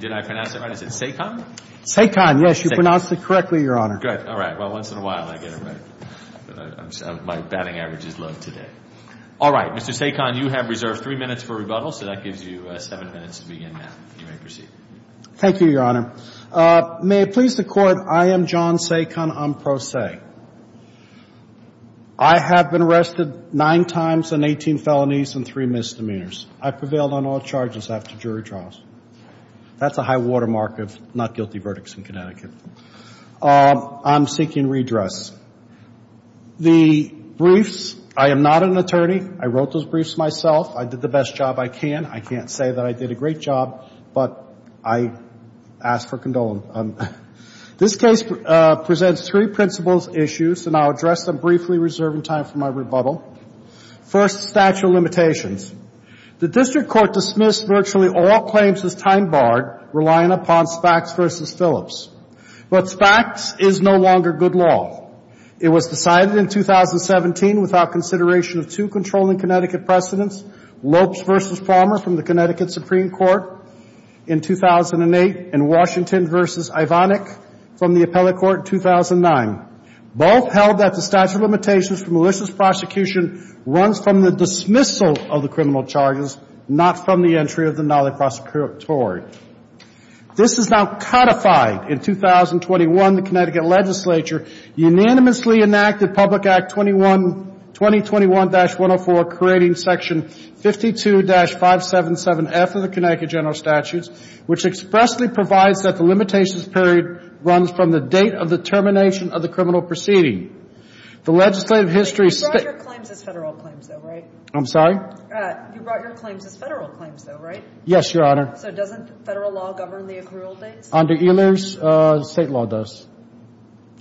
Did I pronounce that right? Is it Saekon? Saekon, yes. You pronounced it correctly, Your Honor. Good. All right. Well, once in a while I get it right. My batting average is low today. All right. Mr. Saekon, you have reserved three minutes for rebuttal, so that gives you seven minutes to begin now. You may proceed. Thank you, Your Honor. May it please the Court, I am John Saekon. I'm pro se. I have been arrested nine times and 18 felonies and three misdemeanors. I prevailed on all charges after jury trials. That's a high watermark of not guilty verdicts in Connecticut. I'm seeking redress. The briefs, I am not an attorney. I wrote those briefs myself. I did the best job I can. I can't say that I did a great job, but I ask for condolence. This case presents three principles, issues, and I'll address them briefly, reserving time for my rebuttal. First, statute of limitations. The District Court dismissed virtually all claims as time-barred, relying upon Spaks v. Phillips. But Spaks is no longer good law. It was decided in 2017 without consideration of two controlling Connecticut precedents, Lopes v. Palmer from the Connecticut Supreme Court in 2008 and Washington v. Ivanik from the Appellate Court in 2009. Both held that the statute of limitations for malicious prosecution runs from the dismissal of the criminal charges, not from the entry of the knowledge prosecutory. This is now codified in 2021. The Connecticut Legislature unanimously enacted Public Act 21, 2021-104, creating Section 52-577F of the Connecticut General Statutes, which expressly provides that the limitations period runs from the date of the termination of the criminal proceeding. The legislative history of State — You brought your claims as Federal claims, though, right? I'm sorry? You brought your claims as Federal claims, though, right? Yes, Your Honor. So doesn't Federal law govern the accrual dates? Under Ehlers, State law does.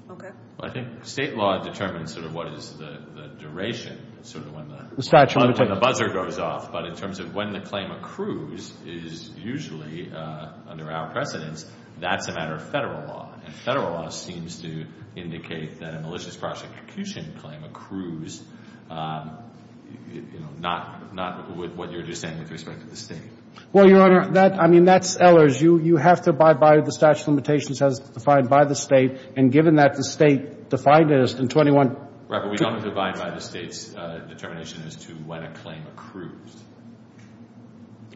Okay. Well, I think State law determines sort of what is the duration, sort of when the — The statute of limitations. The buzzer goes off, but in terms of when the claim accrues is usually under our precedence. That's a matter of Federal law, and Federal law seems to indicate that a malicious prosecution claim accrues, you know, not with what you're just saying with respect to the State. Well, Your Honor, that — I mean, that's Ehlers. You have to abide by the statute of limitations as defined by the State, and given that the State defined it as in 21 — Right, but we don't have to abide by the State's determination as to when a claim accrues.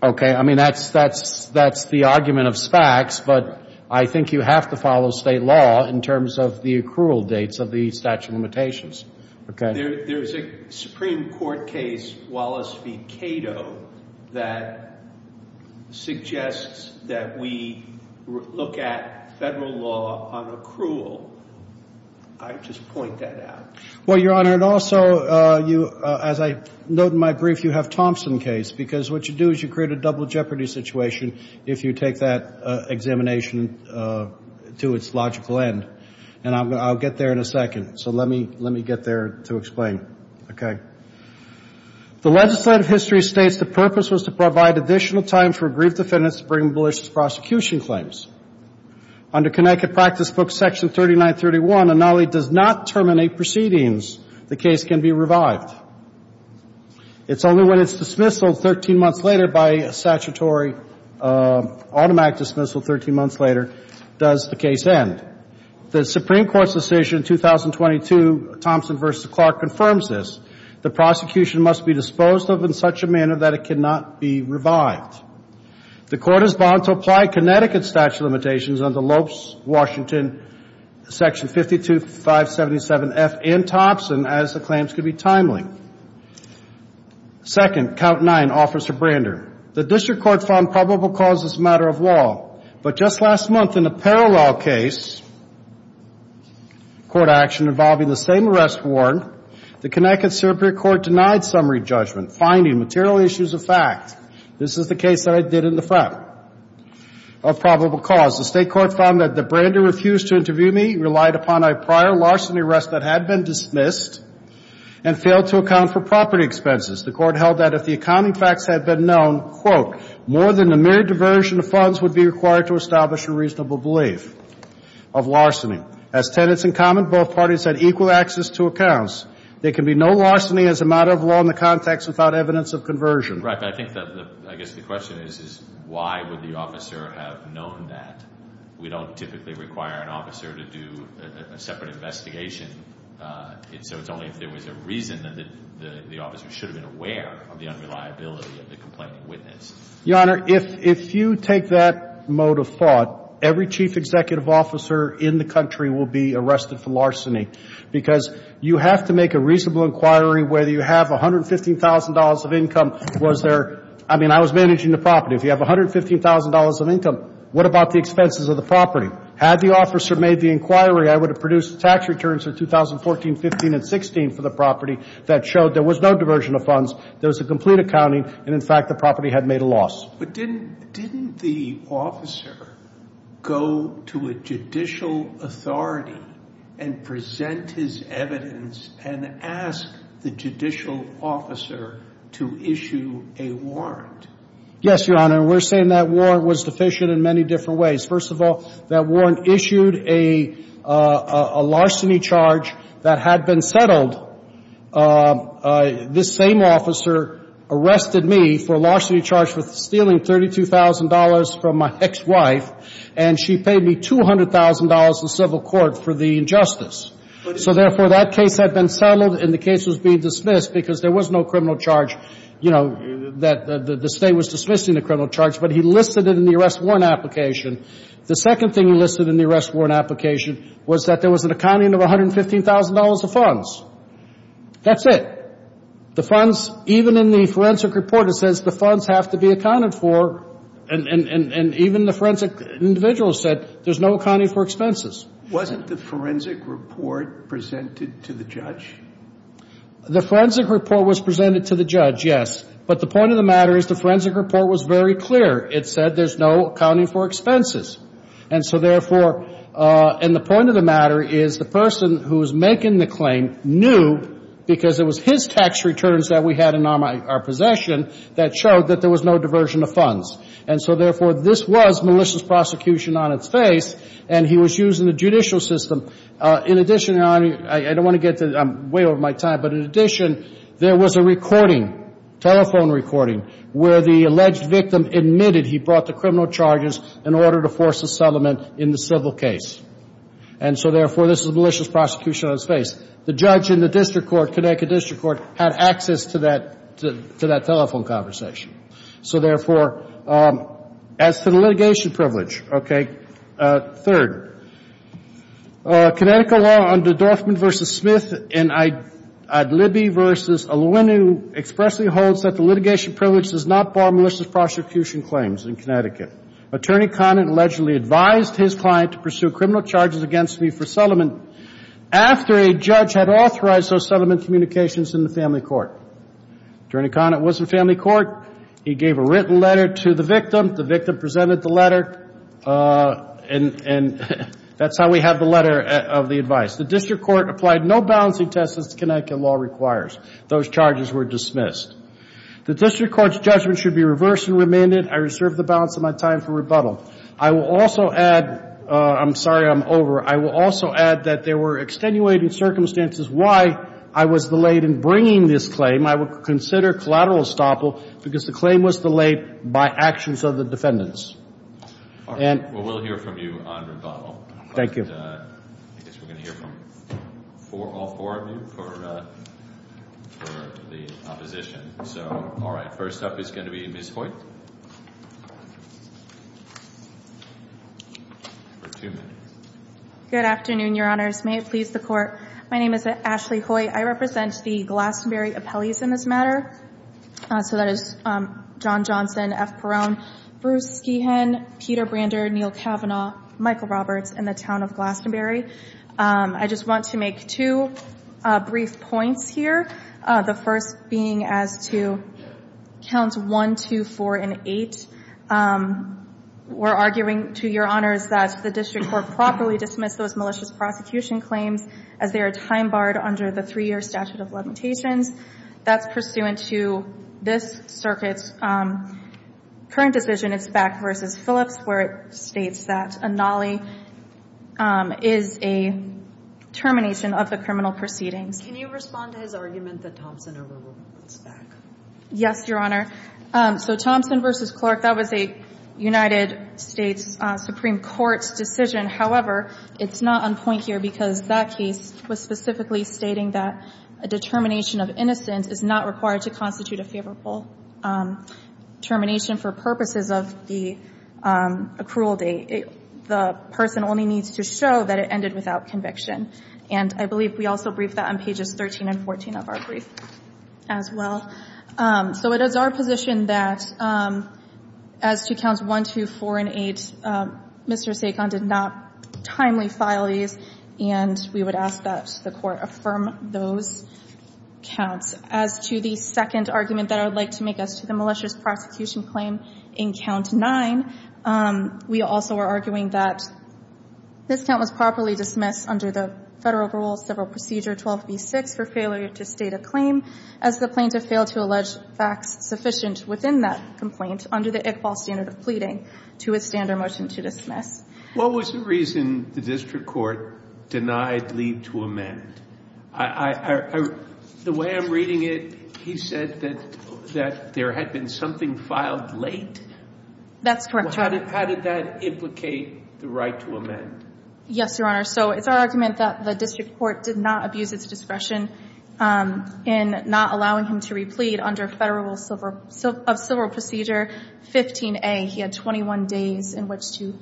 Okay. I mean, that's the argument of SPACs, but I think you have to follow State law in terms of the accrual dates of the statute of limitations. Okay. There's a Supreme Court case, Wallace v. Cato, that suggests that we look at Federal law on accrual. I would just point that out. Well, Your Honor, and also you — as I note in my brief, you have Thompson case, because what you do is you create a double jeopardy situation if you take that examination to its logical end. And I'll get there in a second, so let me — let me get there to explain. Okay. The legislative history states the purpose was to provide additional time for grief defendants to bring malicious prosecution claims. Under Connecticut practice book section 3931, a nullity does not terminate proceedings. The case can be revived. It's only when it's dismissal 13 months later by statutory automatic dismissal 13 months later does the case end. The Supreme Court's decision in 2022, Thompson v. Clark, confirms this. The prosecution must be disposed of in such a manner that it cannot be revived. The court is bound to apply Connecticut statute of limitations under Lopes, Washington, section 52577F and Thompson as the claims could be timely. Second, count nine, Officer Brander. The district court found probable cause as a matter of law. But just last month in a parallel case, court action involving the same arrest warrant, the Connecticut Superior Court denied summary judgment, finding material issues a fact. This is the case that I did in the front of probable cause. The state court found that the Brander refused to interview me, relied upon a prior larceny arrest that had been dismissed, and failed to account for property expenses. The court held that if the accounting facts had been known, quote, more than a mere diversion of funds would be required to establish a reasonable belief of larceny. As tenants in common, both parties had equal access to accounts. There can be no larceny as a matter of law in the context without evidence of conversion. Right, but I think that I guess the question is why would the officer have known that? We don't typically require an officer to do a separate investigation. So it's only if there was a reason that the officer should have been aware of the unreliability of the complaining witness. Your Honor, if you take that mode of thought, every chief executive officer in the country will be arrested for larceny because you have to make a reasonable inquiry whether you have $115,000 of income. Was there? I mean, I was managing the property. If you have $115,000 of income, what about the expenses of the property? Had the officer made the inquiry, I would have produced tax returns for 2014, 15, and 16 for the property that showed there was no diversion of funds, there was a complete accounting, and, in fact, the property had made a loss. But didn't the officer go to a judicial authority and present his evidence and ask the judicial officer to issue a warrant? Yes, Your Honor, and we're saying that warrant was deficient in many different ways. First of all, that warrant issued a larceny charge that had been settled. This same officer arrested me for a larceny charge for stealing $32,000 from my ex-wife, and she paid me $200,000 in civil court for the injustice. So, therefore, that case had been settled and the case was being dismissed because there was no criminal charge, you know, that the State was dismissing the criminal charge, but he listed it in the arrest warrant application. The second thing he listed in the arrest warrant application was that there was an accounting of $115,000 of funds. That's it. The funds, even in the forensic report, it says the funds have to be accounted for, and even the forensic individual said there's no accounting for expenses. Wasn't the forensic report presented to the judge? The forensic report was presented to the judge, yes, but the point of the matter is the forensic report was very clear. It said there's no accounting for expenses. And so, therefore, and the point of the matter is the person who was making the claim knew, because it was his tax returns that we had in our possession that showed that there was no diversion of funds. And so, therefore, this was malicious prosecution on its face, and he was using the judicial system. In addition, and I don't want to get to it. I'm way over my time. But, in addition, there was a recording, telephone recording, where the alleged victim admitted he brought the criminal charges in order to force a settlement in the civil case. And so, therefore, this was malicious prosecution on its face. The judge in the district court, Connecticut District Court, had access to that telephone conversation. So, therefore, as to the litigation privilege, okay. Third, Connecticut law under Dorfman v. Smith and Adlibby v. Alouinu expressly holds that the litigation privilege does not bar malicious prosecution claims in Connecticut. Attorney Conant allegedly advised his client to pursue criminal charges against me for settlement after a judge had authorized those settlement communications in the family court. Attorney Conant was in family court. He gave a written letter to the victim. The victim presented the letter, and that's how we have the letter of the advice. The district court applied no balancing tests as Connecticut law requires. Those charges were dismissed. The district court's judgment should be reversed and remanded. I reserve the balance of my time for rebuttal. I will also add, I'm sorry, I'm over. I will also add that there were extenuating circumstances why I was delayed in bringing this claim. I would consider collateral estoppel because the claim was delayed by actions of the defendants. And we'll hear from you on rebuttal. Thank you. I guess we're going to hear from all four of you for the opposition. So, all right. First up is going to be Ms. Hoyt for two minutes. Good afternoon, Your Honors. May it please the Court. My name is Ashley Hoyt. I represent the Glastonbury appellees in this matter. So that is John Johnson, F. Perone, Bruce Skehan, Peter Brander, Neal Kavanaugh, Michael Roberts, and the Town of Glastonbury. I just want to make two brief points here, the first being as to Counts 1, 2, 4, and 8. We're arguing to Your Honors that the district court properly dismissed those malicious prosecution claims as they are time barred under the three-year statute of limitations. That's pursuant to this circuit's current decision, it's Back v. Phillips, where it states that a nollie is a termination of the criminal proceedings. Can you respond to his argument that Thompson overruled Back? Yes, Your Honor. So Thompson v. Clark, that was a United States Supreme Court decision. However, it's not on point here because that case was specifically stating that a determination of innocence is not required to constitute a favorable termination for purposes of the accrual date. The person only needs to show that it ended without conviction. And I believe we also briefed that on pages 13 and 14 of our brief as well. So it is our position that as to Counts 1, 2, 4, and 8, Mr. Sacon did not timely file these, and we would ask that the court affirm those counts. As to the second argument that I would like to make as to the malicious prosecution claim in Count 9, we also are arguing that this count was properly dismissed under the federal rule, 12B6 for failure to state a claim as the plaintiff failed to allege facts sufficient within that complaint under the Iqbal standard of pleading to withstand our motion to dismiss. What was the reason the district court denied leave to amend? The way I'm reading it, he said that there had been something filed late? That's correct, Your Honor. How did that implicate the right to amend? Yes, Your Honor. So it's our argument that the district court did not abuse its discretion in not allowing him to replead under federal rule of civil procedure 15A. He had 21 days in which to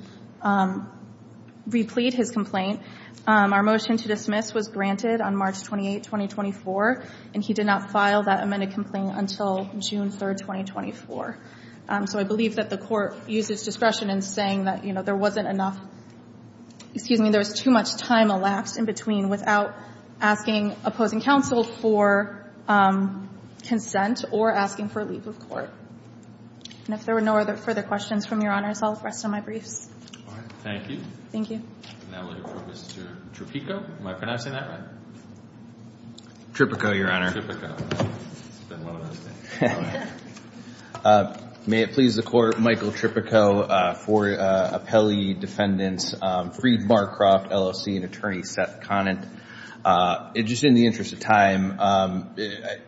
replead his complaint. Our motion to dismiss was granted on March 28, 2024, and he did not file that amended complaint until June 3, 2024. So I believe that the court uses discretion in saying that, you know, there wasn't enough excuse me, there was too much time elapsed in between without asking opposing counsel for consent or asking for leave of court. And if there were no further questions from Your Honors, I'll rest on my briefs. All right. Thank you. Thank you. And that will conclude Mr. Tripico. Am I pronouncing that right? Tripico, Your Honor. It's been a long time. May it please the Court, Michael Tripico, four appellee defendants, Freed, Barcroft, LLC, and attorney Seth Conant. Just in the interest of time,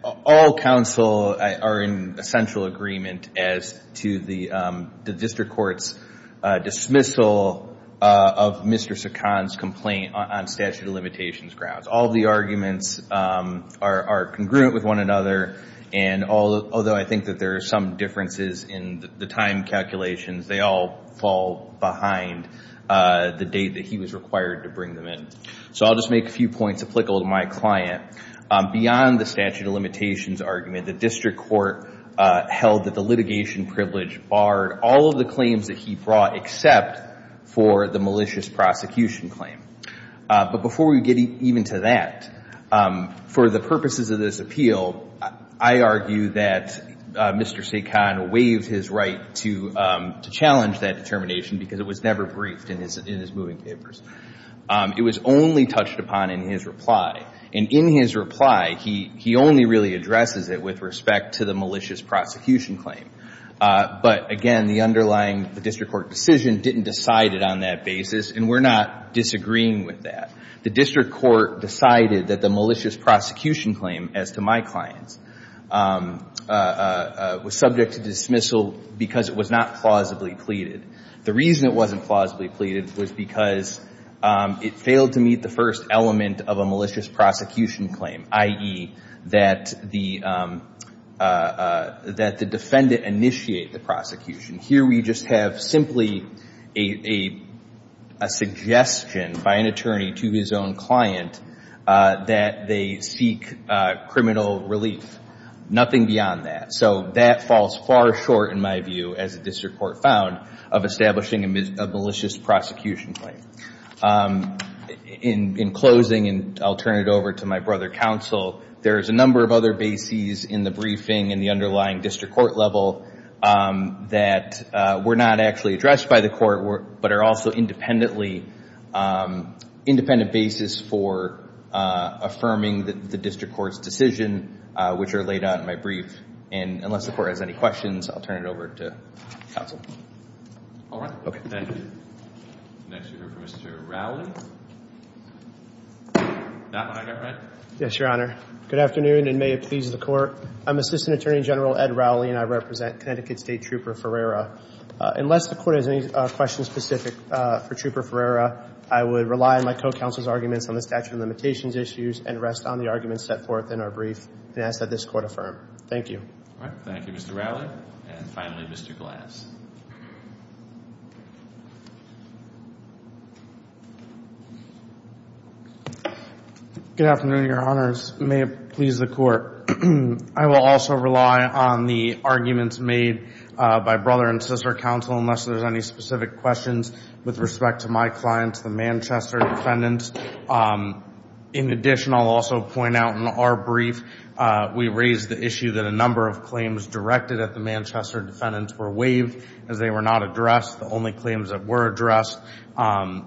all counsel are in essential agreement as to the district court's dismissal of Mr. Saccon's complaint on statute of limitations grounds. All the arguments are congruent with one another. And although I think that there are some differences in the time calculations, they all fall behind the date that he was required to bring them in. So I'll just make a few points applicable to my client. Beyond the statute of limitations argument, the district court held that the litigation privilege barred all of the claims that he brought except for the malicious prosecution claim. But before we get even to that, for the purposes of this appeal, I argue that Mr. Saccon waived his right to challenge that determination because it was never briefed in his moving papers. It was only touched upon in his reply. And in his reply, he only really addresses it with respect to the malicious prosecution claim. But, again, the underlying district court decision didn't decide it on that basis, and we're not disagreeing with that. The district court decided that the malicious prosecution claim, as to my clients, was subject to dismissal because it was not plausibly pleaded. The reason it wasn't plausibly pleaded was because it failed to meet the first element of a malicious prosecution claim, i.e., that the defendant initiate the prosecution. Here we just have simply a suggestion by an attorney to his own client that they seek criminal relief. Nothing beyond that. So that falls far short, in my view, as the district court found, of establishing a malicious prosecution claim. In closing, and I'll turn it over to my brother, Counsel, there's a number of other bases in the briefing and the underlying district court level that were not actually addressed by the court, but are also independent bases for affirming the district court's decision, which are laid out in my brief. And unless the Court has any questions, I'll turn it over to Counsel. All right. Okay. Thank you. Next, we have Mr. Rowley. Yes, Your Honor. Good afternoon, and may it please the Court. I'm Assistant Attorney General Ed Rowley, and I represent Connecticut State Trooper Ferreira. Unless the Court has any questions specific for Trooper Ferreira, I would rely on my co-counsel's arguments on the statute of limitations issues and rest on the arguments set forth in our brief and ask that this Court affirm. Thank you. All right. Thank you, Mr. Rowley. And finally, Mr. Glass. Good afternoon, Your Honors. May it please the Court. I will also rely on the arguments made by brother and sister counsel, unless there's any specific questions with respect to my client, the Manchester defendants. In addition, I'll also point out in our brief, we raised the issue that a number of claims directed at the Manchester defendants were waived as they were not addressed. The only claims that were addressed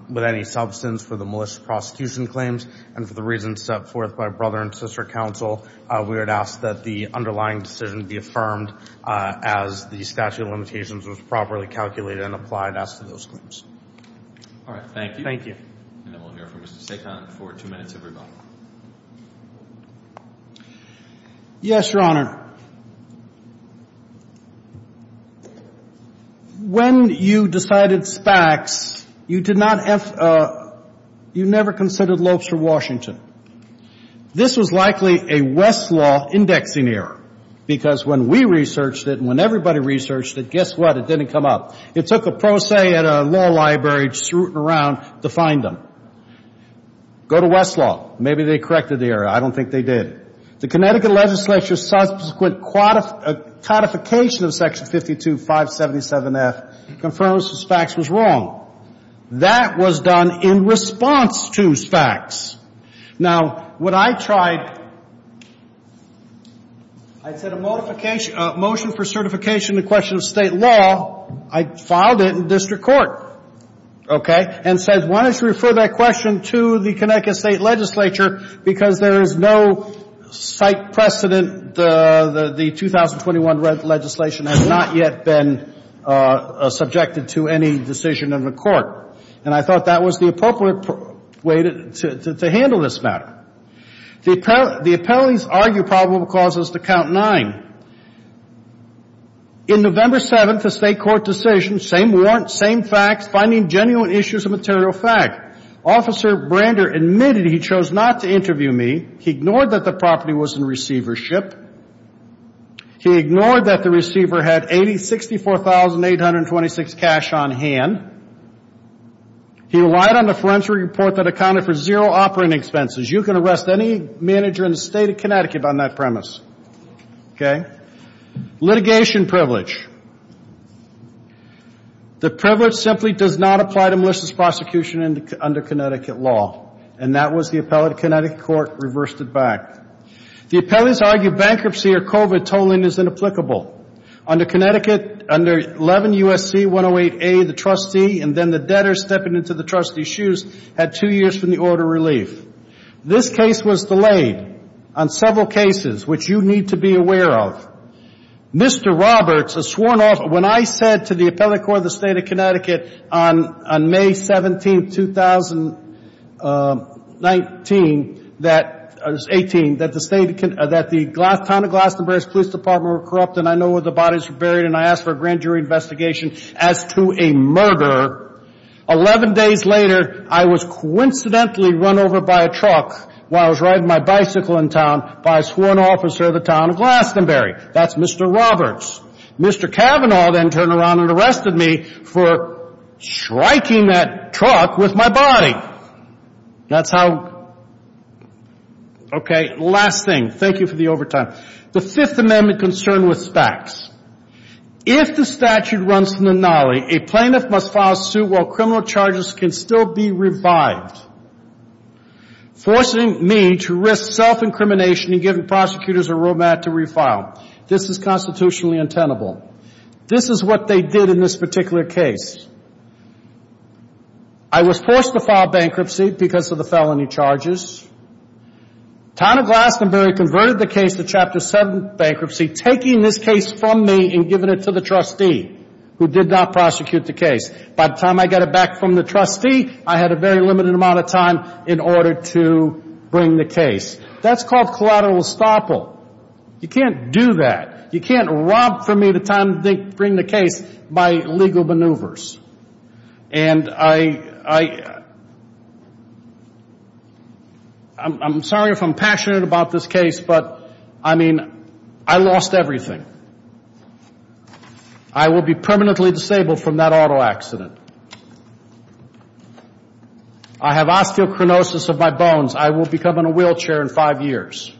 with any substance were the malicious prosecution claims and for the reasons set forth by brother and sister counsel, we would ask that the underlying decision be affirmed as the statute of limitations was properly calculated and applied as to those claims. All right. Thank you. Thank you. And then we'll hear from Mr. Sacon for two minutes of rebuttal. Yes, Your Honor. Your Honor, when you decided SPACs, you never considered Lopes v. Washington. This was likely a Westlaw indexing error because when we researched it and when everybody researched it, guess what? It didn't come up. It took a pro se at a law library, just rooting around to find them. Go to Westlaw. Maybe they corrected the error. I don't think they did. The Connecticut legislature's subsequent codification of Section 52577F confirms SPACs was wrong. That was done in response to SPACs. Now, what I tried, I said a motion for certification in the question of state law, I filed it in district court, okay, and said why don't you refer that question to the Connecticut state legislature because there is no site precedent, the 2021 legislation has not yet been subjected to any decision of the court. And I thought that was the appropriate way to handle this matter. The appellees argue probable causes to count nine. In November 7th, a state court decision, same warrant, same facts, finding genuine issues of material fact. Officer Brander admitted he chose not to interview me. He ignored that the property was in receivership. He ignored that the receiver had $64,826 cash on hand. He relied on a forensic report that accounted for zero operating expenses. You can arrest any manager in the state of Connecticut on that premise, okay? Litigation privilege. The privilege simply does not apply to malicious prosecution under Connecticut law, and that was the appellate Connecticut court reversed it back. The appellees argue bankruptcy or COVID tolling is inapplicable. Under Connecticut, under 11 U.S.C. 108A, the trustee and then the debtor stepping into the trustee's shoes had two years from the order of relief. This case was delayed on several cases, which you need to be aware of. Mr. Roberts, a sworn officer, when I said to the appellate court of the state of Connecticut on May 17th, 2018, that the town of Glastonbury's police department were corrupt and I know where the bodies were buried and I asked for a grand jury investigation as to a murder, 11 days later I was coincidentally run over by a truck while I was riding my bicycle in town by a sworn officer of the town of Glastonbury. That's Mr. Roberts. Mr. Cavanaugh then turned around and arrested me for striking that truck with my body. That's how... Okay, last thing. Thank you for the overtime. The Fifth Amendment concern with SPACs. If the statute runs from the NOLI, a plaintiff must file suit while criminal charges can still be revived, forcing me to risk self-incrimination and giving prosecutors a road map to refile. This is constitutionally untenable. This is what they did in this particular case. I was forced to file bankruptcy because of the felony charges. Town of Glastonbury converted the case to Chapter 7 bankruptcy, taking this case from me and giving it to the trustee, who did not prosecute the case. By the time I got it back from the trustee, I had a very limited amount of time in order to bring the case. That's called collateral estoppel. You can't do that. You can't rob from me the time to bring the case by legal maneuvers. And I... I'm sorry if I'm passionate about this case, but, I mean, I lost everything. I will be permanently disabled from that auto accident. I have osteochronosis of my bones. I will become in a wheelchair in five years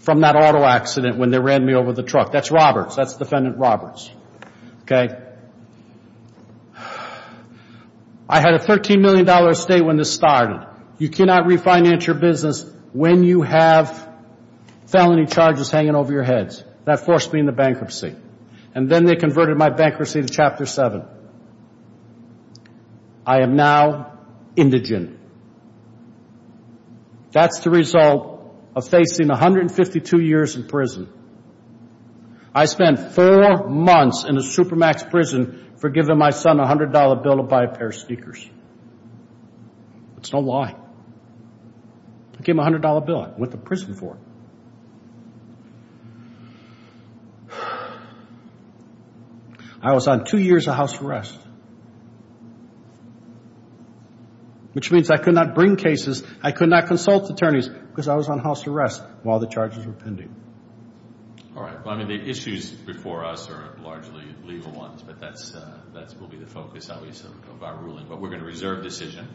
from that auto accident when they ran me over the truck. That's Roberts. That's Defendant Roberts. Okay? I had a $13 million estate when this started. You cannot refinance your business when you have felony charges hanging over your heads. That forced me into bankruptcy. And then they converted my bankruptcy to Chapter 7. I am now indigent. That's the result of facing 152 years in prison. I spent four months in a Supermax prison for giving my son a $100 bill to buy a pair of sneakers. It's no lie. I gave him a $100 bill. I went to prison for it. I was on two years of house arrest, which means I could not bring cases. I could not consult attorneys because I was on house arrest while the charges were pending. All right. Well, I mean, the issues before us are largely legal ones, but that will be the focus, obviously, of our ruling. But we're going to reserve decision.